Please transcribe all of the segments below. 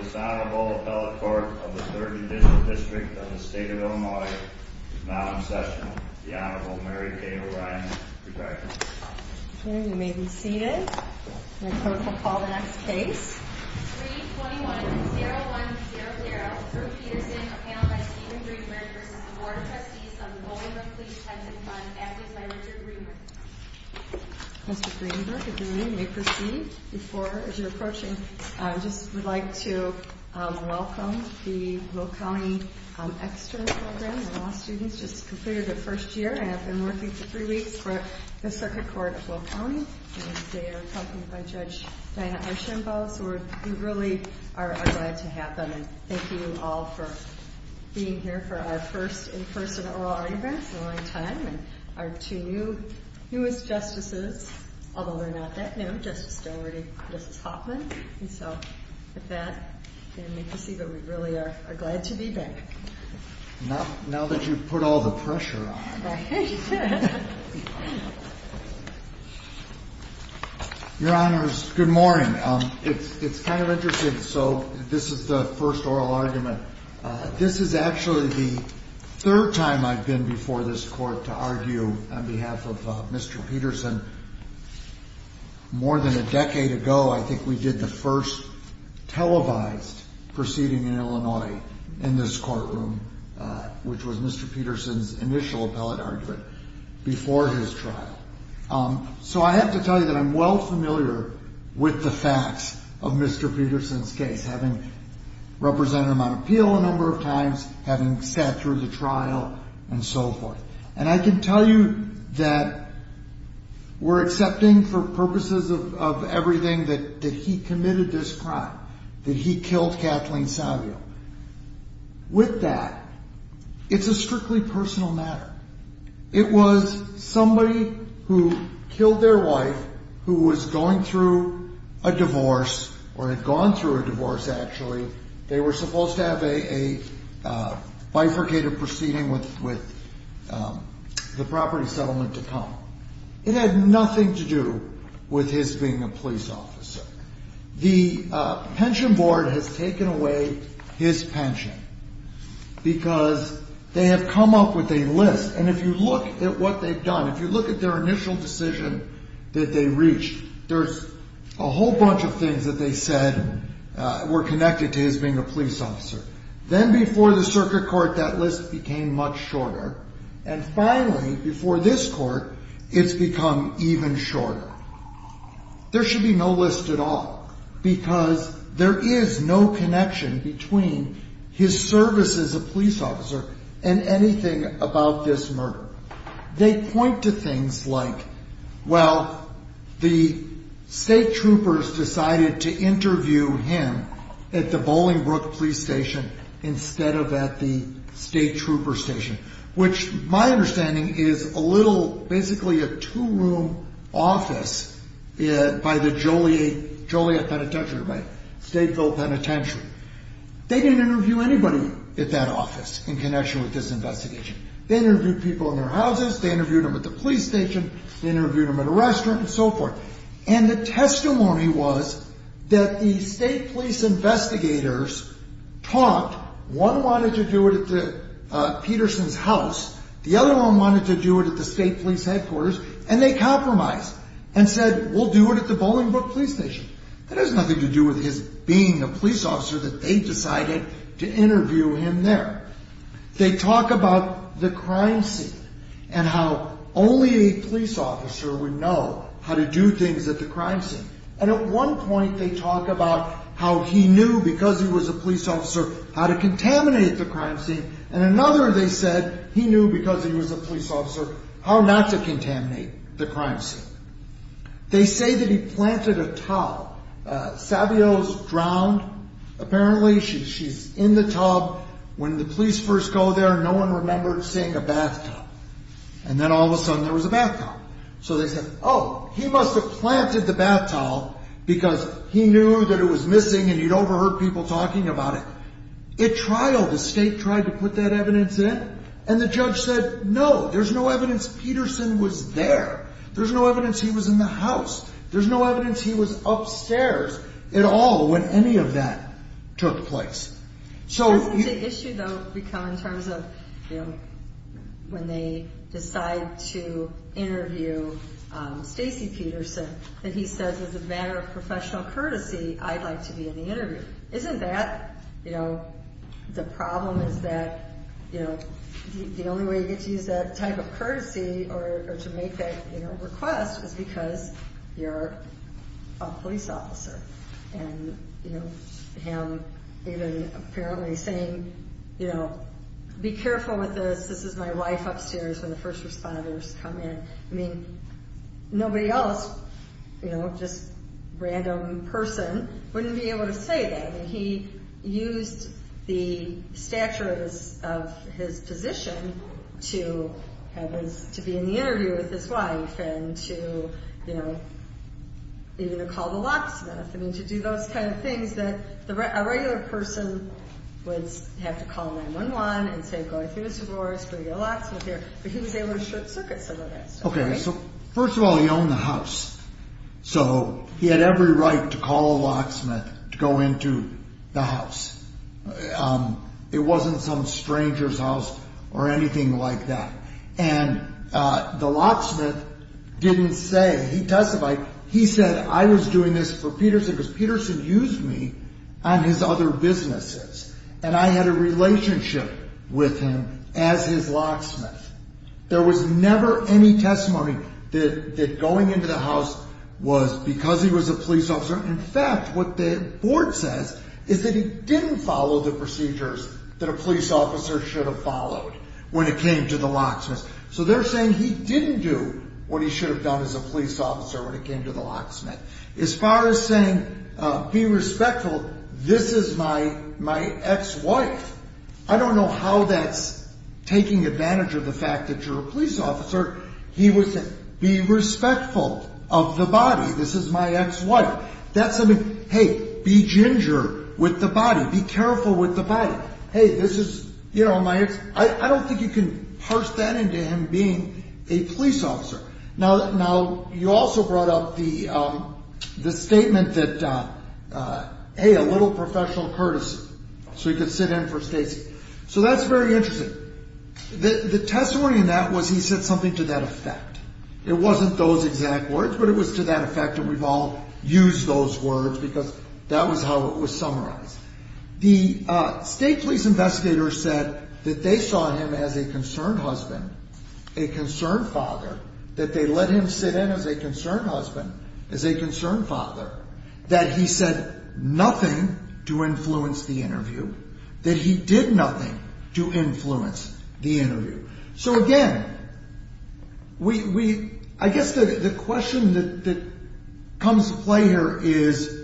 This Honorable Appellate Court of the 3rd District of the State of Illinois is now in session. The Honorable Mary Kay O'Brien, Rebecca. Okay, you may be seated. The court will call the next case. 321-01-00, Sir Peterson, a panel by Stephen Greenberg v. the Board of Trustees of the Bolingbrook Police Pension Fund, acted by Richard Greenberg. Mr. Greenberg, if you may proceed as you're approaching. I just would like to welcome the Will County Extern Program. We're all students just completed their first year and have been working for three weeks for the Circuit Court of Will County. They are accompanied by Judge Diana Archambault, so we really are glad to have them. And thank you all for being here for our first in-person oral autographs in a long time. And our two newest Justices, although they're not that new, Justice Dougherty and Justice Hoffman. And so, with that, we can see that we really are glad to be back. Now that you've put all the pressure on. Your Honor, good morning. It's kind of interesting. So this is the first oral argument. This is actually the third time I've been before this court to argue on behalf of Mr. Peterson. More than a decade ago, I think we did the first televised proceeding in Illinois in this courtroom, which was Mr. Peterson's initial appellate argument before his trial. So I have to tell you that I'm well familiar with the facts of Mr. Peterson's case, having represented him on appeal a number of times, having sat through the trial and so forth. And I can tell you that we're accepting for purposes of everything that he committed this crime, that he killed Kathleen Savio. With that, it's a strictly personal matter. It was somebody who killed their wife, who was going through a divorce, or had gone through a divorce, actually. They were supposed to have a bifurcated proceeding with the property settlement to come. It had nothing to do with his being a police officer. The pension board has taken away his pension because they have come up with a list. And if you look at what they've done, if you look at their initial decision that they reached, there's a whole bunch of things that they said were connected to his being a police officer. Then before the circuit court, that list became much shorter. And finally, before this court, it's become even shorter. There should be no list at all because there is no connection between his service as a police officer and anything about this murder. They point to things like, well, the state troopers decided to interview him at the Bolingbrook police station instead of at the state trooper station, which my understanding is a little, basically a two-room office by the Joliet Penitentiary, by Stateville Penitentiary. They didn't interview anybody at that office in connection with this investigation. They interviewed people in their houses. They interviewed them at the police station. They interviewed them at a restaurant and so forth. And the testimony was that the state police investigators talked. One wanted to do it at Peterson's house. The other one wanted to do it at the state police headquarters. And they compromised and said, we'll do it at the Bolingbrook police station. That has nothing to do with his being a police officer that they decided to interview him there. They talk about the crime scene and how only a police officer would know how to do things at the crime scene. And at one point they talk about how he knew because he was a police officer how to contaminate the crime scene. And another, they said, he knew because he was a police officer how not to contaminate the crime scene. They say that he planted a tub. Savio's drowned. Apparently she's in the tub. When the police first go there, no one remembered seeing a bathtub. And then all of a sudden there was a bathtub. So they said, oh, he must have planted the bathtub because he knew that it was missing and he'd overheard people talking about it. It trialed. The state tried to put that evidence in. And the judge said, no, there's no evidence Peterson was there. There's no evidence he was in the house. There's no evidence he was upstairs at all when any of that took place. So the issue, though, become in terms of, you know, when they decide to interview Stacy Peterson, that he says as a matter of professional courtesy, I'd like to be in the interview. Isn't that, you know, the problem is that, you know, the only way you get to use that type of courtesy or to make that request is because you're a police officer. And, you know, him even apparently saying, you know, be careful with this. This is my wife upstairs when the first responders come in. I mean, nobody else, you know, just random person wouldn't be able to say that. I mean, he used the stature of his position to be in the interview with his wife and to, you know, even to call the locksmith. I mean, to do those kind of things that a regular person would have to call 9-1-1 and say, go through Mr. Morris, go get a locksmith here. But he was able to short circuit some of that stuff. Okay. So first of all, he owned the house. So he had every right to call a locksmith to go into the house. It wasn't some stranger's house or anything like that. And the locksmith didn't say he testified. He said, I was doing this for Peterson because Peterson used me on his other businesses. And I had a relationship with him as his locksmith. There was never any testimony that going into the house was because he was a police officer. In fact, what the board says is that he didn't follow the procedures that a police officer should have followed when it came to the locksmith. So they're saying he didn't do what he should have done as a police officer when it came to the locksmith. As far as saying, be respectful, this is my ex-wife. I don't know how that's taking advantage of the fact that you're a police officer. He would say, be respectful of the body. This is my ex-wife. That's something, hey, be ginger with the body. Be careful with the body. Hey, this is, you know, my ex. I don't think you can parse that into him being a police officer. Now, you also brought up the statement that, hey, a little professional courtesy so he could sit in for Stacy. So that's very interesting. The testimony in that was he said something to that effect. It wasn't those exact words, but it was to that effect that we've all used those words because that was how it was summarized. The state police investigator said that they saw him as a concerned husband, a concerned father, that they let him sit in as a concerned husband, as a concerned father, that he said nothing to influence the interview, that he did nothing to influence the interview. So, again, I guess the question that comes to play here is,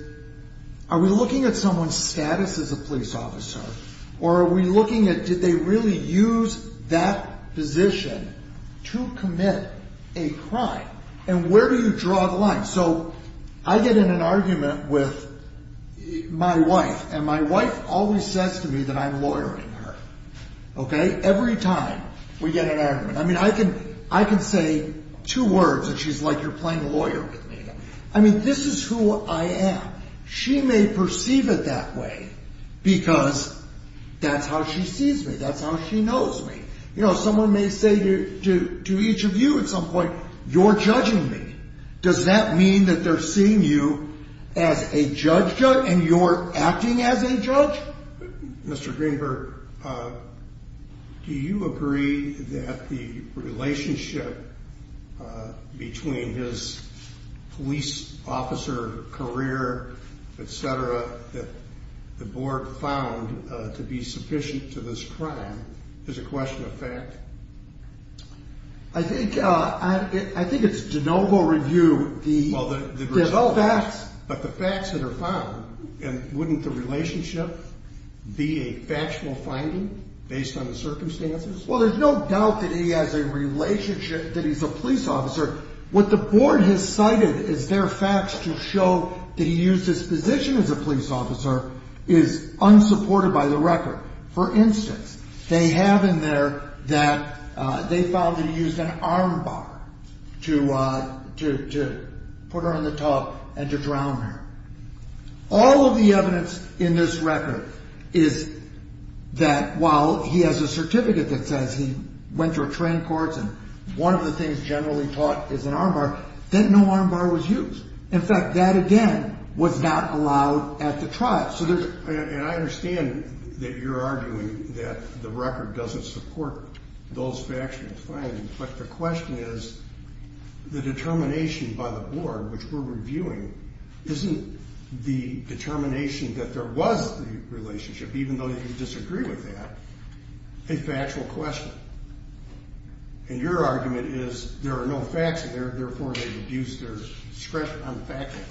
are we looking at someone's status as a police officer, or are we looking at did they really use that position to commit a crime, and where do you draw the line? So I get in an argument with my wife, and my wife always says to me that I'm lawyering her. Okay? Every time we get in an argument. I mean, I can say two words, and she's like, you're playing the lawyer with me. I mean, this is who I am. She may perceive it that way because that's how she sees me. That's how she knows me. You know, someone may say to each of you at some point, you're judging me. Does that mean that they're seeing you as a judge and you're acting as a judge? Mr. Greenberg, do you agree that the relationship between his police officer career, et cetera, that the board found to be sufficient to this crime is a question of fact? I think it's de novo review. There's all facts, but the facts that are found, and wouldn't the relationship be a factual finding based on the circumstances? Well, there's no doubt that he has a relationship, that he's a police officer. What the board has cited is their facts to show that he used his position as a police officer is unsupported by the record. For instance, they have in there that they found that he used an armbar to put her in the tub and to drown her. All of the evidence in this record is that while he has a certificate that says he went to a train course and one of the things generally taught is an armbar, then no armbar was used. In fact, that again was not allowed at the trial. And I understand that you're arguing that the record doesn't support those factual findings, but the question is the determination by the board, which we're reviewing, isn't the determination that there was the relationship, even though you disagree with that, a factual question? And your argument is there are no facts there, therefore they've abused their discretion on factual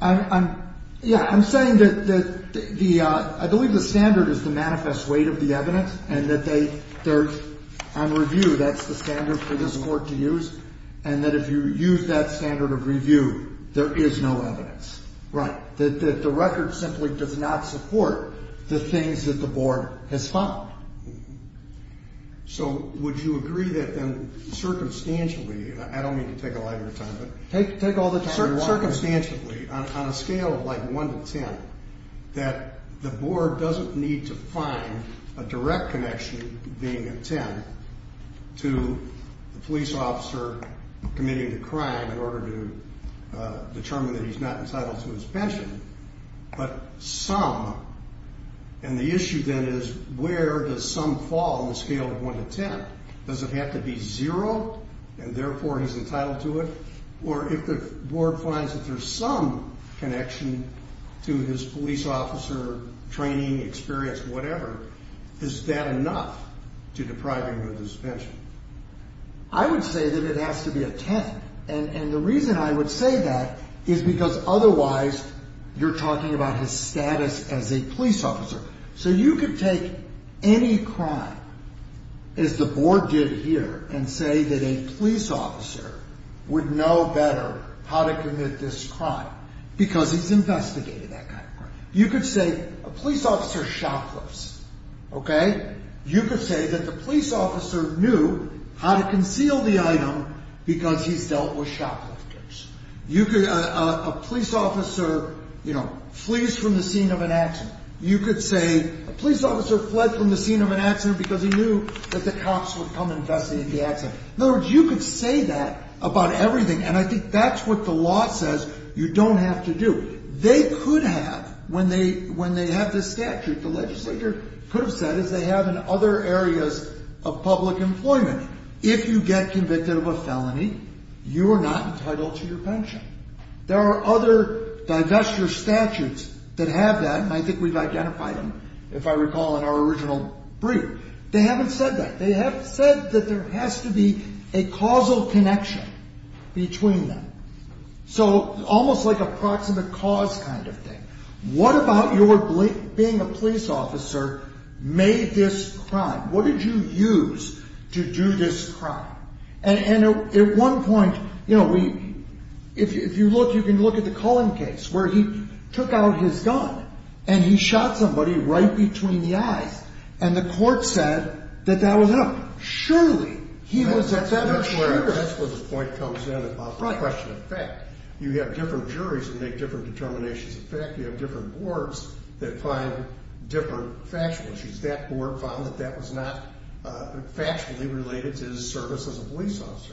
findings. Yeah, I'm saying that I believe the standard is the manifest weight of the evidence and that on review, that's the standard for this court to use, and that if you use that standard of review, there is no evidence. Right. That the record simply does not support the things that the board has found. So would you agree that then circumstantially, and I don't mean to take a lot of your time, but take all the time you want. That circumstantially, on a scale of like 1 to 10, that the board doesn't need to find a direct connection, being a 10, to the police officer committing the crime in order to determine that he's not entitled to his pension, but some, and the issue then is where does some fall on the scale of 1 to 10? Does it have to be 0, and therefore he's entitled to it? Or if the board finds that there's some connection to his police officer training, experience, whatever, is that enough to deprive him of his pension? I would say that it has to be a 10, and the reason I would say that is because otherwise you're talking about his status as a police officer. So you could take any crime, as the board did here, and say that a police officer would know better how to commit this crime because he's investigated that kind of crime. You could say a police officer shoplifts, okay? You could say that the police officer knew how to conceal the item because he's dealt with shoplifters. You could, a police officer, you know, flees from the scene of an accident. You could say a police officer fled from the scene of an accident because he knew that the cops would come investigate the accident. In other words, you could say that about everything, and I think that's what the law says you don't have to do. They could have, when they have this statute, the legislature could have said, as they have in other areas of public employment, if you get convicted of a felony, you are not entitled to your pension. There are other divestiture statutes that have that, and I think we've identified them, if I recall, in our original brief. They haven't said that. They have said that there has to be a causal connection between them, so almost like a proximate cause kind of thing. What about your being a police officer made this crime? What did you use to do this crime? And at one point, you know, if you look, you can look at the Cullen case where he took out his gun and he shot somebody right between the eyes, and the court said that that was him. Surely he was at that insurance. That's where the point comes in about the question of fact. You have different juries that make different determinations of fact. You have different boards that find different factual issues. That board found that that was not factually related to his service as a police officer.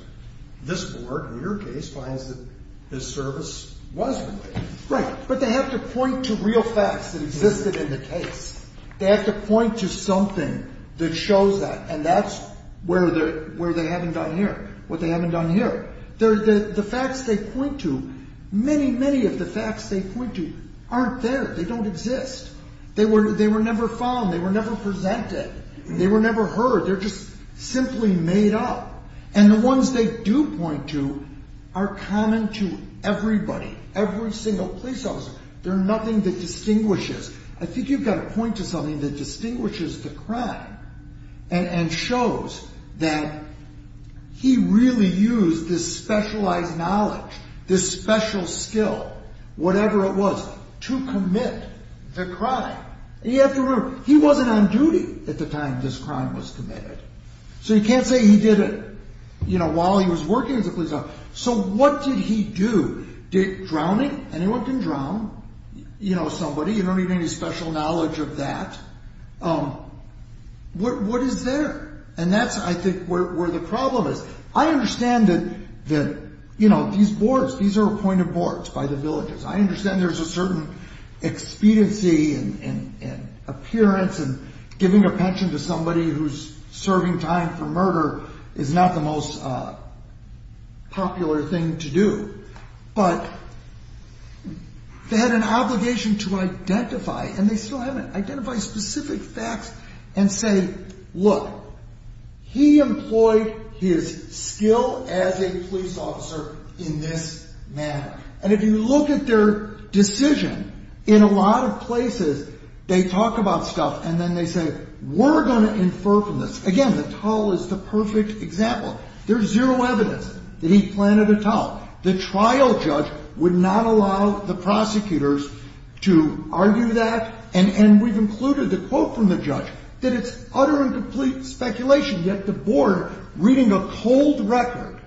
This board, in your case, finds that his service was related. Right, but they have to point to real facts that existed in the case. They have to point to something that shows that, and that's where they haven't done here, what they haven't done here. The facts they point to, many, many of the facts they point to aren't there. They don't exist. They were never found. They were never presented. They were never heard. They're just simply made up, and the ones they do point to are common to everybody, every single police officer. They're nothing that distinguishes. and shows that he really used this specialized knowledge, this special skill, whatever it was, to commit the crime. And you have to remember, he wasn't on duty at the time this crime was committed. So you can't say he did it while he was working as a police officer. So what did he do? Drowning? Anyone can drown somebody. You don't need any special knowledge of that. What is there? And that's, I think, where the problem is. I understand that these boards, these are appointed boards by the villages. I understand there's a certain expediency and appearance, and giving a pension to somebody who's serving time for murder is not the most popular thing to do. But they had an obligation to identify, and they still haven't identified specific facts, and say, look, he employed his skill as a police officer in this manner. And if you look at their decision, in a lot of places, they talk about stuff, and then they say, we're going to infer from this. Again, the towel is the perfect example. There's zero evidence that he planted a towel. The trial judge would not allow the prosecutors to argue that. And we've included the quote from the judge, that it's utter and complete speculation. Yet the board, reading a cold record,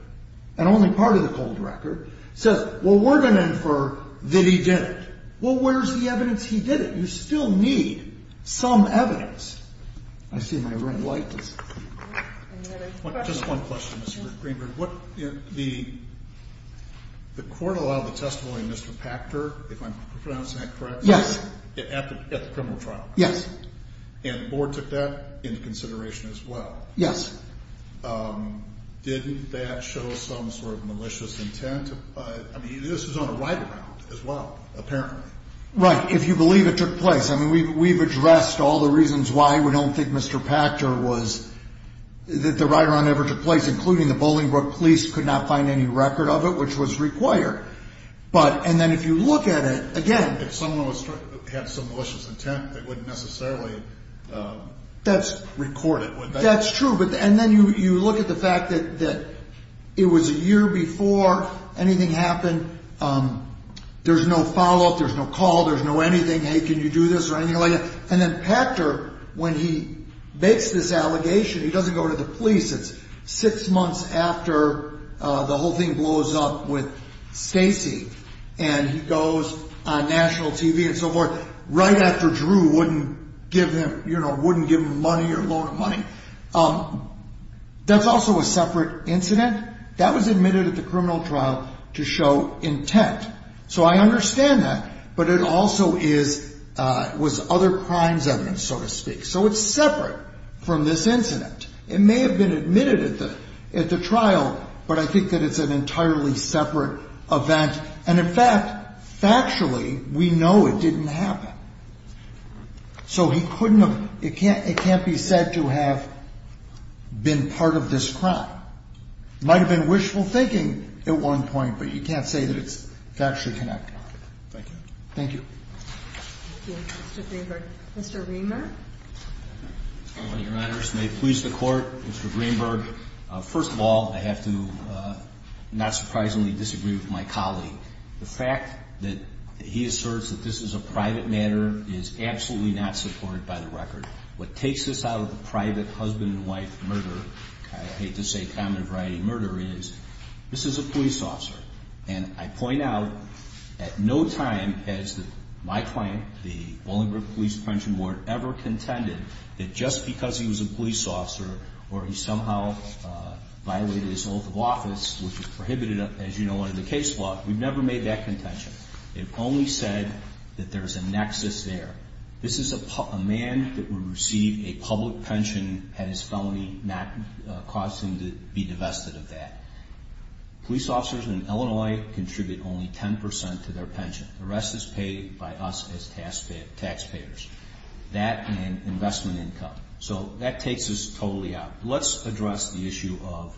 and only part of the cold record, says, well, we're going to infer that he did it. Well, where's the evidence he did it? You still need some evidence. I see my red light. Just one question, Mr. Greenberg. The court allowed the testimony of Mr. Pachter, if I'm pronouncing that correct? Yes. At the criminal trial? Yes. And the board took that into consideration as well? Yes. Didn't that show some sort of malicious intent? I mean, this was on a write-around as well, apparently. Right. If you believe it took place. I mean, we've addressed all the reasons why we don't think Mr. Pachter was, that the write-around ever took place, including the Bolingbroke police could not find any record of it, which was required. And then if you look at it, again. If someone had some malicious intent, they wouldn't necessarily record it, would they? That's true. And then you look at the fact that it was a year before anything happened. There's no follow-up. There's no call. There's no anything. Hey, can you do this or anything like that? And then Pachter, when he makes this allegation, he doesn't go to the police. It's six months after the whole thing blows up with Stacy, and he goes on national TV and so forth, right after Drew wouldn't give him money or loan him money. That's also a separate incident. That was admitted at the criminal trial to show intent. So I understand that. But it also is, was other crimes evidence, so to speak. So it's separate from this incident. It may have been admitted at the trial, but I think that it's an entirely separate event. And, in fact, factually, we know it didn't happen. So he couldn't have, it can't be said to have been part of this crime. Might have been wishful thinking at one point, but you can't say that it's factually connected. Thank you. Thank you. Thank you, Mr. Greenberg. Mr. Greenberg. Your Honor, this may please the Court. Mr. Greenberg, first of all, I have to not surprisingly disagree with my colleague. The fact that he asserts that this is a private matter is absolutely not supported by the record. What takes this out of the private husband and wife murder, I hate to say common variety murder, is this is a police officer. And I point out, at no time has my client, the Bolingbroke Police Pension Board, ever contended that just because he was a police officer or he somehow violated his oath of office, which is prohibited, as you know, under the case law, we've never made that contention. It only said that there's a nexus there. This is a man that would receive a public pension had his felony not caused him to be divested of that. Police officers in Illinois contribute only 10% to their pension. The rest is paid by us as taxpayers. That and investment income. So that takes this totally out. Let's address the issue of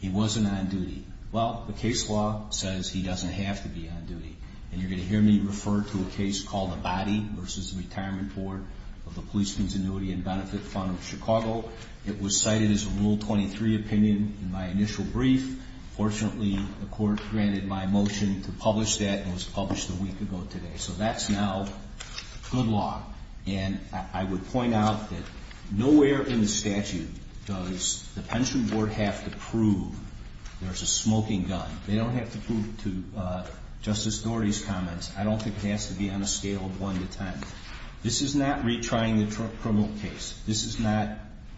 he wasn't on duty. Well, the case law says he doesn't have to be on duty. And you're going to hear me refer to a case called Abadi v. Retirement Board of the Police Continuity and Benefit Fund of Chicago. It was cited as a Rule 23 opinion in my initial brief. Fortunately, the court granted my motion to publish that and it was published a week ago today. So that's now good law. And I would point out that nowhere in the statute does the pension board have to prove there's a smoking gun. They don't have to prove to Justice Doherty's comments. I don't think it has to be on a scale of 1 to 10. This is not retrying the criminal case. This is not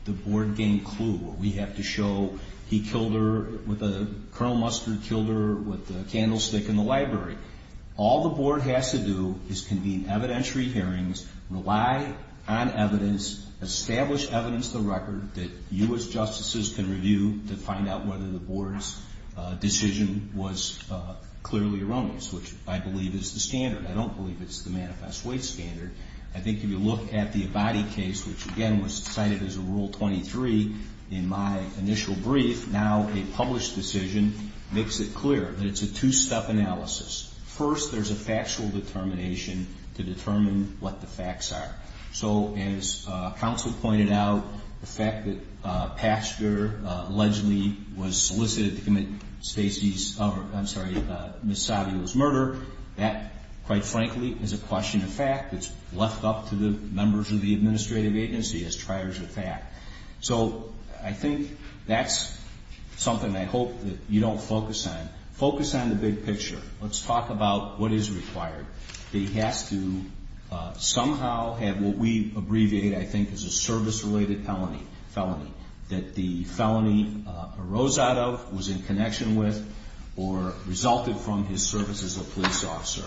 the board game clue where we have to show he killed her with a – Colonel Mustard killed her with a candlestick in the library. All the board has to do is convene evidentiary hearings, rely on evidence, establish evidence to the record that you as justices can review to find out whether the board's decision was clearly erroneous, which I believe is the standard. I don't believe it's the manifest waste standard. I think if you look at the Abadi case, which, again, was cited as a Rule 23 in my initial brief, now a published decision makes it clear that it's a two-step analysis. First, there's a factual determination to determine what the facts are. So as counsel pointed out, the fact that Pasteur allegedly was solicited to commit Stacy's – I'm sorry, Ms. Savio's murder, that, quite frankly, is a question of fact. It's left up to the members of the administrative agency as triars of fact. So I think that's something I hope that you don't focus on. Focus on the big picture. Let's talk about what is required. He has to somehow have what we abbreviate, I think, as a service-related felony, that the felony arose out of, was in connection with, or resulted from his service as a police officer.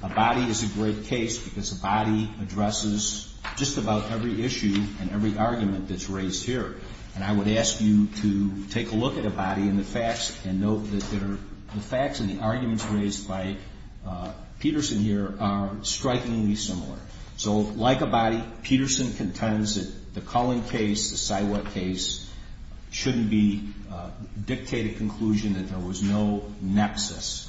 Abadi is a great case because Abadi addresses just about every issue and every argument that's raised here. And I would ask you to take a look at Abadi and the facts and note that the facts and the arguments raised by Peterson here are strikingly similar. So like Abadi, Peterson contends that the Cullen case, the Siwat case, shouldn't dictate a conclusion that there was no nexus.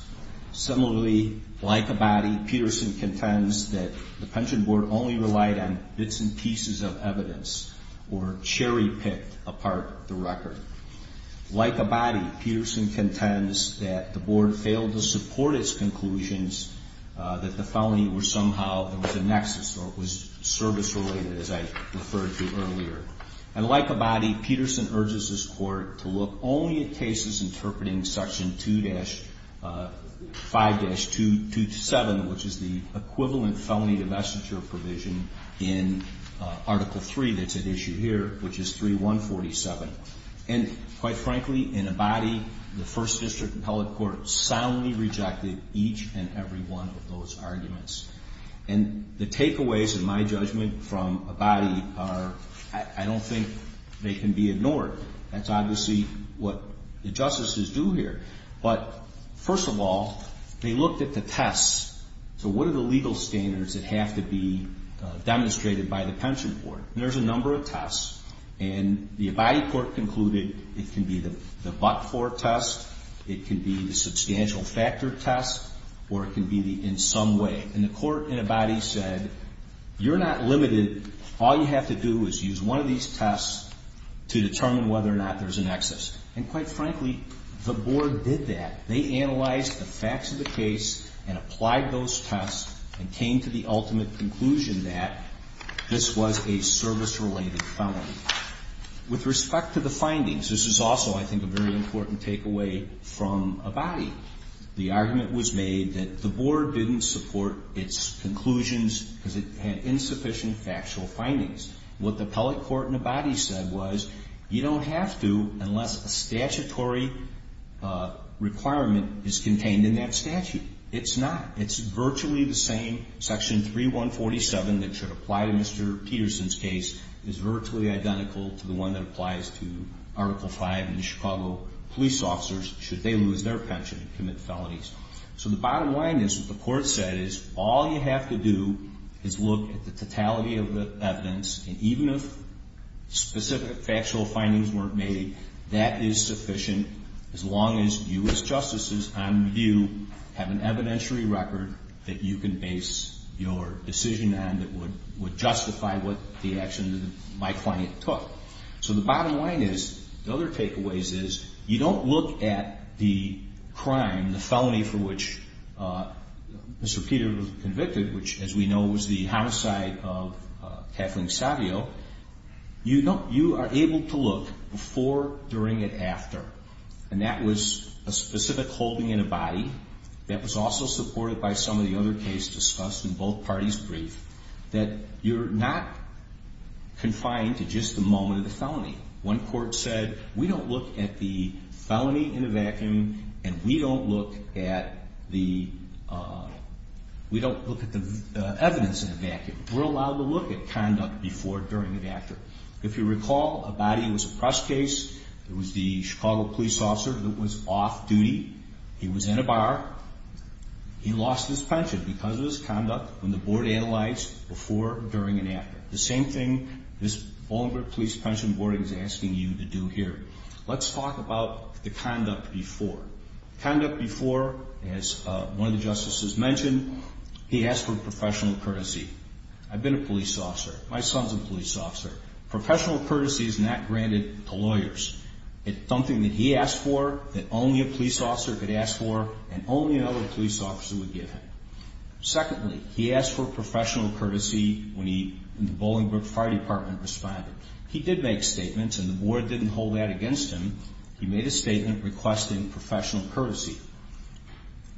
Similarly, like Abadi, Peterson contends that the pension board only relied on bits and pieces of evidence or cherry-picked apart the record. Like Abadi, Peterson contends that the board failed to support its conclusions that the felony was somehow, there was a nexus, or it was service-related, as I referred to earlier. And like Abadi, Peterson urges his court to look only at cases interpreting Section 2-5-227, which is the equivalent felony divestiture provision in Article 3 that's at issue here, which is 3-147. And quite frankly, in Abadi, the First District Appellate Court soundly rejected each and every one of those arguments. And the takeaways, in my judgment, from Abadi are I don't think they can be ignored. That's obviously what the justices do here. But first of all, they looked at the tests. So what are the legal standards that have to be demonstrated by the pension board? And there's a number of tests. And the Abadi court concluded it can be the but-for test, it can be the substantial factor test, or it can be the in some way. And the court in Abadi said, you're not limited. All you have to do is use one of these tests to determine whether or not there's a nexus. And quite frankly, the board did that. They analyzed the facts of the case and applied those tests and came to the ultimate conclusion that this was a service-related felony. With respect to the findings, this is also, I think, a very important takeaway from Abadi. The argument was made that the board didn't support its conclusions because it had insufficient factual findings. What the appellate court in Abadi said was, you don't have to unless a statutory requirement is contained in that statute. It's not. It's virtually the same. Section 3147 that should apply to Mr. Peterson's case is virtually identical to the one that applies to So the bottom line is, what the court said is, all you have to do is look at the totality of the evidence, and even if specific factual findings weren't made, that is sufficient as long as you as justices on review have an evidentiary record that you can base your decision on that would justify what the action my client took. So the bottom line is, the other takeaways is, you don't look at the crime, the felony for which Mr. Peter was convicted, which as we know was the homicide of Kathleen Savio. You are able to look before, during, and after, and that was a specific holding in Abadi that was also supported by some of the other cases discussed in both parties' brief, that you're not confined to just the moment of the felony. One court said, we don't look at the felony in a vacuum, and we don't look at the evidence in a vacuum. We're allowed to look at conduct before, during, and after. If you recall, Abadi was a press case. It was the Chicago police officer that was off duty. He was in a bar. He lost his pension because of his conduct when the board analyzed before, during, and after. The same thing this Bolingbroke Police Pension Board is asking you to do here. Let's talk about the conduct before. Conduct before, as one of the justices mentioned, he asked for professional courtesy. I've been a police officer. My son's a police officer. Professional courtesy is not granted to lawyers. It's something that he asked for, that only a police officer could ask for, and only another police officer would give him. Secondly, he asked for professional courtesy when the Bolingbroke Fire Department responded. He did make statements, and the board didn't hold that against him. He made a statement requesting professional courtesy.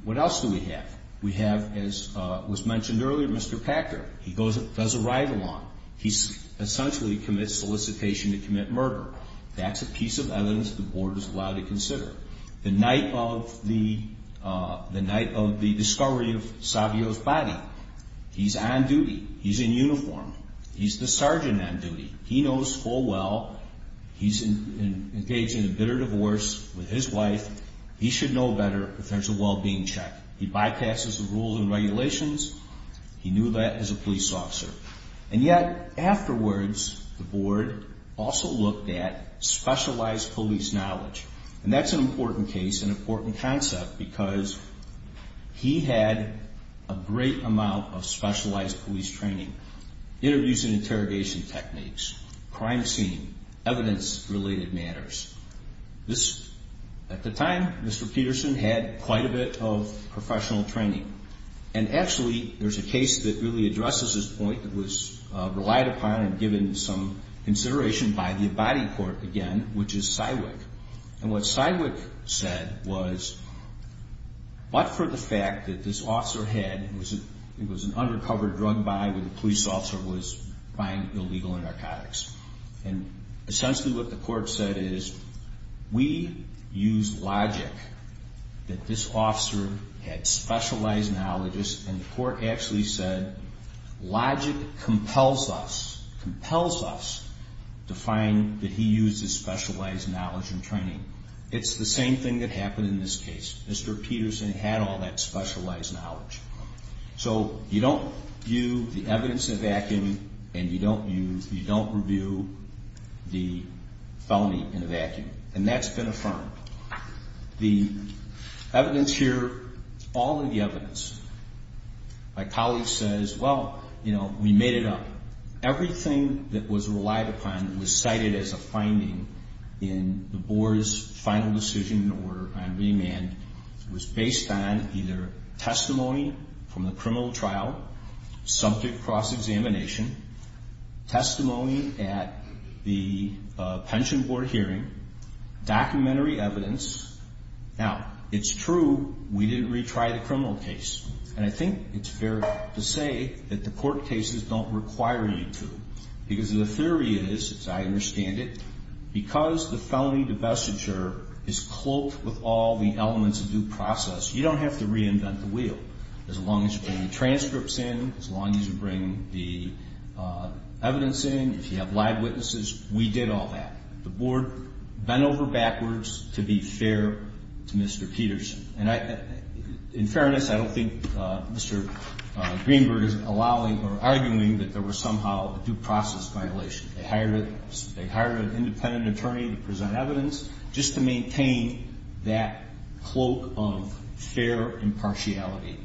What else do we have? We have, as was mentioned earlier, Mr. Packer. He does a ride-along. He essentially commits solicitation to commit murder. That's a piece of evidence the board is allowed to consider. The night of the discovery of Savio's body, he's on duty. He's in uniform. He's the sergeant on duty. He knows full well he's engaged in a bitter divorce with his wife. He should know better if there's a well-being check. He bypasses the rules and regulations. He knew that as a police officer. And yet, afterwards, the board also looked at specialized police knowledge. And that's an important case, an important concept, because he had a great amount of specialized police training, interviews and interrogation techniques, crime scene, evidence-related matters. At the time, Mr. Peterson had quite a bit of professional training. And actually, there's a case that really addresses this point that was relied upon and given some consideration by the Abadi court again, which is Sidewick. And what Sidewick said was, but for the fact that this officer had, it was an undercover drug buy where the police officer was buying illegal narcotics. And essentially what the court said is, we use logic that this officer had specialized knowledge, and the court actually said logic compels us, compels us, to find that he used his specialized knowledge and training. It's the same thing that happened in this case. Mr. Peterson had all that specialized knowledge. So you don't view the evidence in a vacuum, and you don't review the felony in a vacuum. And that's been affirmed. The evidence here, all of the evidence, my colleague says, well, you know, we made it up. Everything that was relied upon was cited as a finding in the board's final decision or on remand was based on either testimony from the criminal trial, subject cross-examination, testimony at the pension board hearing, documentary evidence. Now, it's true we didn't retry the criminal case. And I think it's fair to say that the court cases don't require you to, because the theory is, as I understand it, because the felony divestiture is cloaked with all the elements of due process, you don't have to reinvent the wheel. As long as you bring the transcripts in, as long as you bring the evidence in, if you have live witnesses, we did all that. The board bent over backwards to be fair to Mr. Peterson. And in fairness, I don't think Mr. Greenberg is allowing or arguing that there was somehow a due process violation. They hired an independent attorney to present evidence just to maintain that cloak of fair impartiality.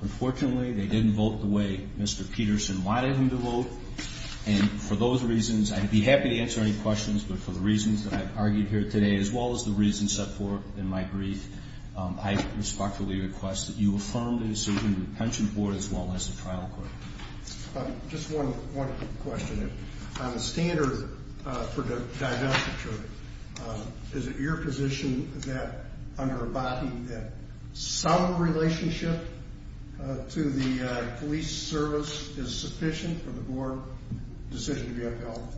Unfortunately, they didn't vote the way Mr. Peterson wanted him to vote. And for those reasons, I'd be happy to answer any questions, but for the reasons that I've argued here today as well as the reasons set forth in my brief, I respectfully request that you affirm the decision of the pension board as well as the trial court. Just one quick question. On the standard for the divestiture, is it your position that under a body that some relationship to the police service is sufficient for the board decision to be upheld?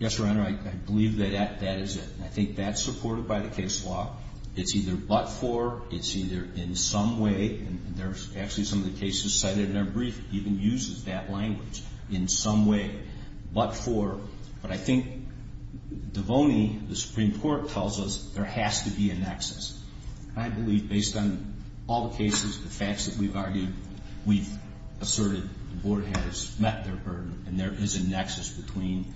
Yes, Your Honor, I believe that that is it. I think that's supported by the case law. It's either but for, it's either in some way, and there's actually some of the cases cited in our brief even uses that language, in some way, but for. But I think DeVoney, the Supreme Court, tells us there has to be a nexus. And I believe based on all the cases, the facts that we've argued, we've asserted the board has met their burden, and there is a nexus between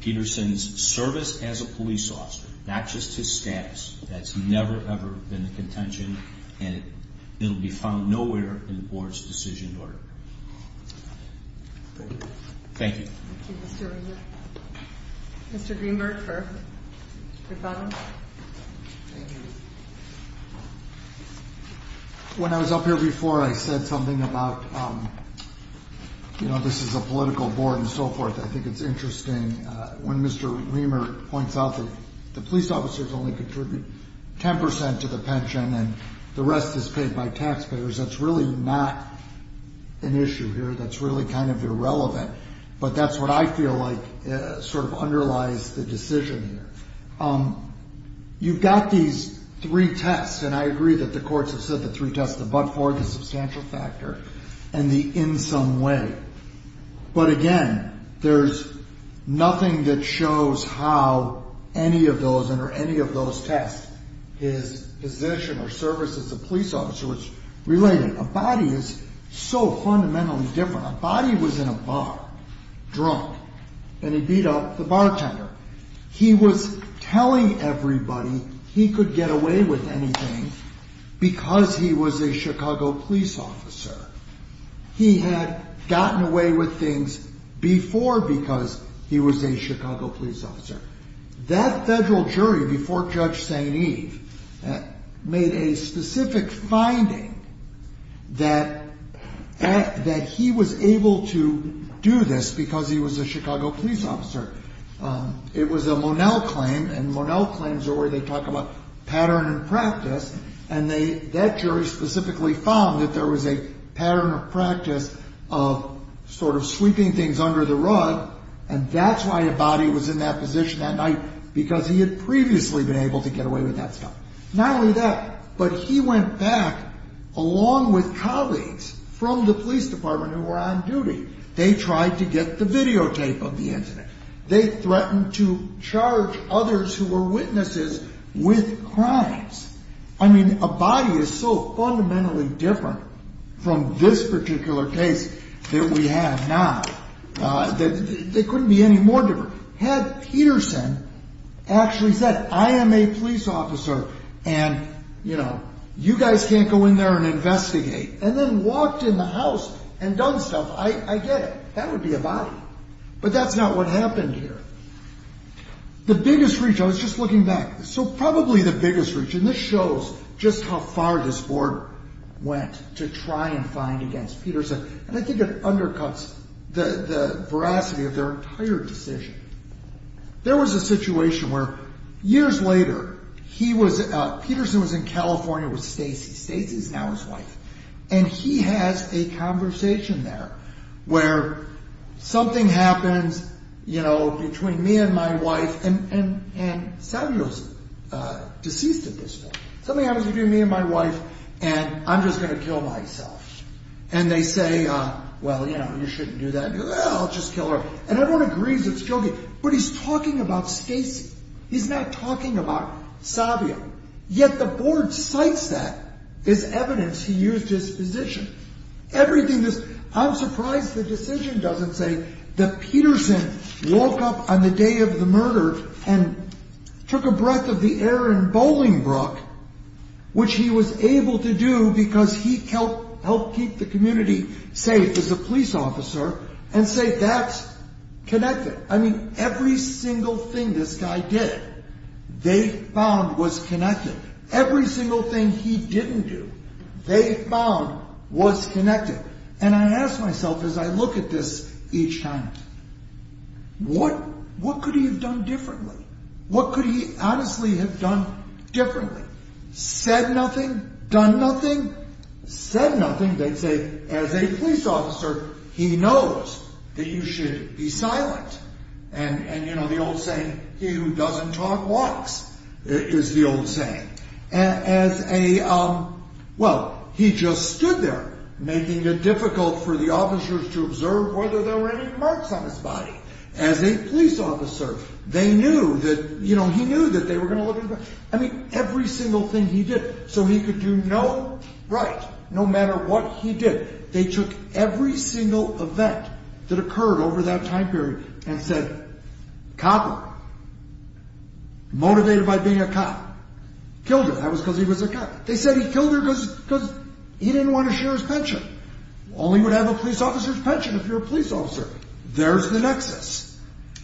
Peterson's service as a police officer, not just his status, that's never, ever been a contention, and it will be found nowhere in the board's decision order. Thank you. Thank you, Mr. Riemer. Mr. Riemer, for your comment. Thank you. When I was up here before, I said something about, you know, this is a political board and so forth. I think it's interesting when Mr. Riemer points out that the police officers only contribute 10% to the pension, and the rest is paid by taxpayers. That's really not an issue here. That's really kind of irrelevant. But that's what I feel like sort of underlies the decision here. You've got these three tests, and I agree that the courts have said the three tests, the but-for, the substantial factor, and the in some way. But, again, there's nothing that shows how any of those, under any of those tests, his position or service as a police officer was related. A body is so fundamentally different. A body was in a bar, drunk, and he beat up the bartender. He was telling everybody he could get away with anything because he was a Chicago police officer. He had gotten away with things before because he was a Chicago police officer. That federal jury before Judge St. Eve made a specific finding that he was able to do this because he was a Chicago police officer. It was a Monell claim, and Monell claims are where they talk about pattern and practice, and that jury specifically found that there was a pattern of practice of sort of sweeping things under the rug, and that's why a body was in that position that night, because he had previously been able to get away with that stuff. Not only that, but he went back along with colleagues from the police department who were on duty. They tried to get the videotape of the incident. They threatened to charge others who were witnesses with crimes. I mean, a body is so fundamentally different from this particular case that we have now. They couldn't be any more different. Had Peterson actually said, I am a police officer, and, you know, you guys can't go in there and investigate, and then walked in the house and done stuff, I get it. That would be a body, but that's not what happened here. The biggest reach, I was just looking back. So probably the biggest reach, and this shows just how far this board went to try and find against Peterson, and I think it undercuts the veracity of their entire decision. There was a situation where years later, he was, Peterson was in California with Stacy. Stacy's now his wife. And he has a conversation there where something happens, you know, between me and my wife, and Savio's deceased at this point. Something happens between me and my wife, and I'm just going to kill myself. And they say, well, you know, you shouldn't do that. I'll just kill her. And everyone agrees it's joking, but he's talking about Stacy. He's not talking about Savio. Yet the board cites that as evidence he used his position. Everything is, I'm surprised the decision doesn't say that Peterson woke up on the day of the murder and took a breath of the air in Bolingbrook, which he was able to do because he helped keep the community safe as a police officer, and say that's connected. I mean, every single thing this guy did, they found was connected. Every single thing he didn't do, they found was connected. And I ask myself as I look at this each time, what could he have done differently? What could he honestly have done differently? Said nothing? Done nothing? Said nothing? They'd say, as a police officer, he knows that you should be silent. And, you know, the old saying, he who doesn't talk walks, is the old saying. As a, well, he just stood there, making it difficult for the officers to observe whether there were any marks on his body. As a police officer, they knew that, you know, he knew that they were going to look at his body. I mean, every single thing he did, so he could do no right, no matter what he did. They took every single event that occurred over that time period and said, copper, motivated by being a cop, killed her. That was because he was a cop. They said he killed her because he didn't want to share his pension. Only would have a police officer's pension if you're a police officer. There's the nexus.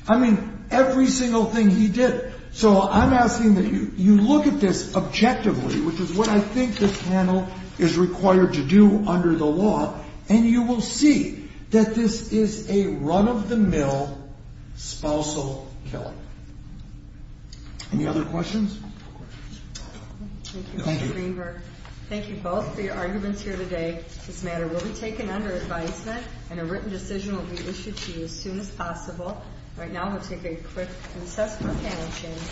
I mean, every single thing he did. So I'm asking that you look at this objectively, which is what I think this panel is required to do under the law, and you will see that this is a run-of-the-mill, spousal killing. Any other questions? Thank you, Mr. Greenberg. Thank you both for your arguments here today. This matter will be taken under advisement, and a written decision will be issued to you as soon as possible. Right now, we'll take a quick assessment panel change.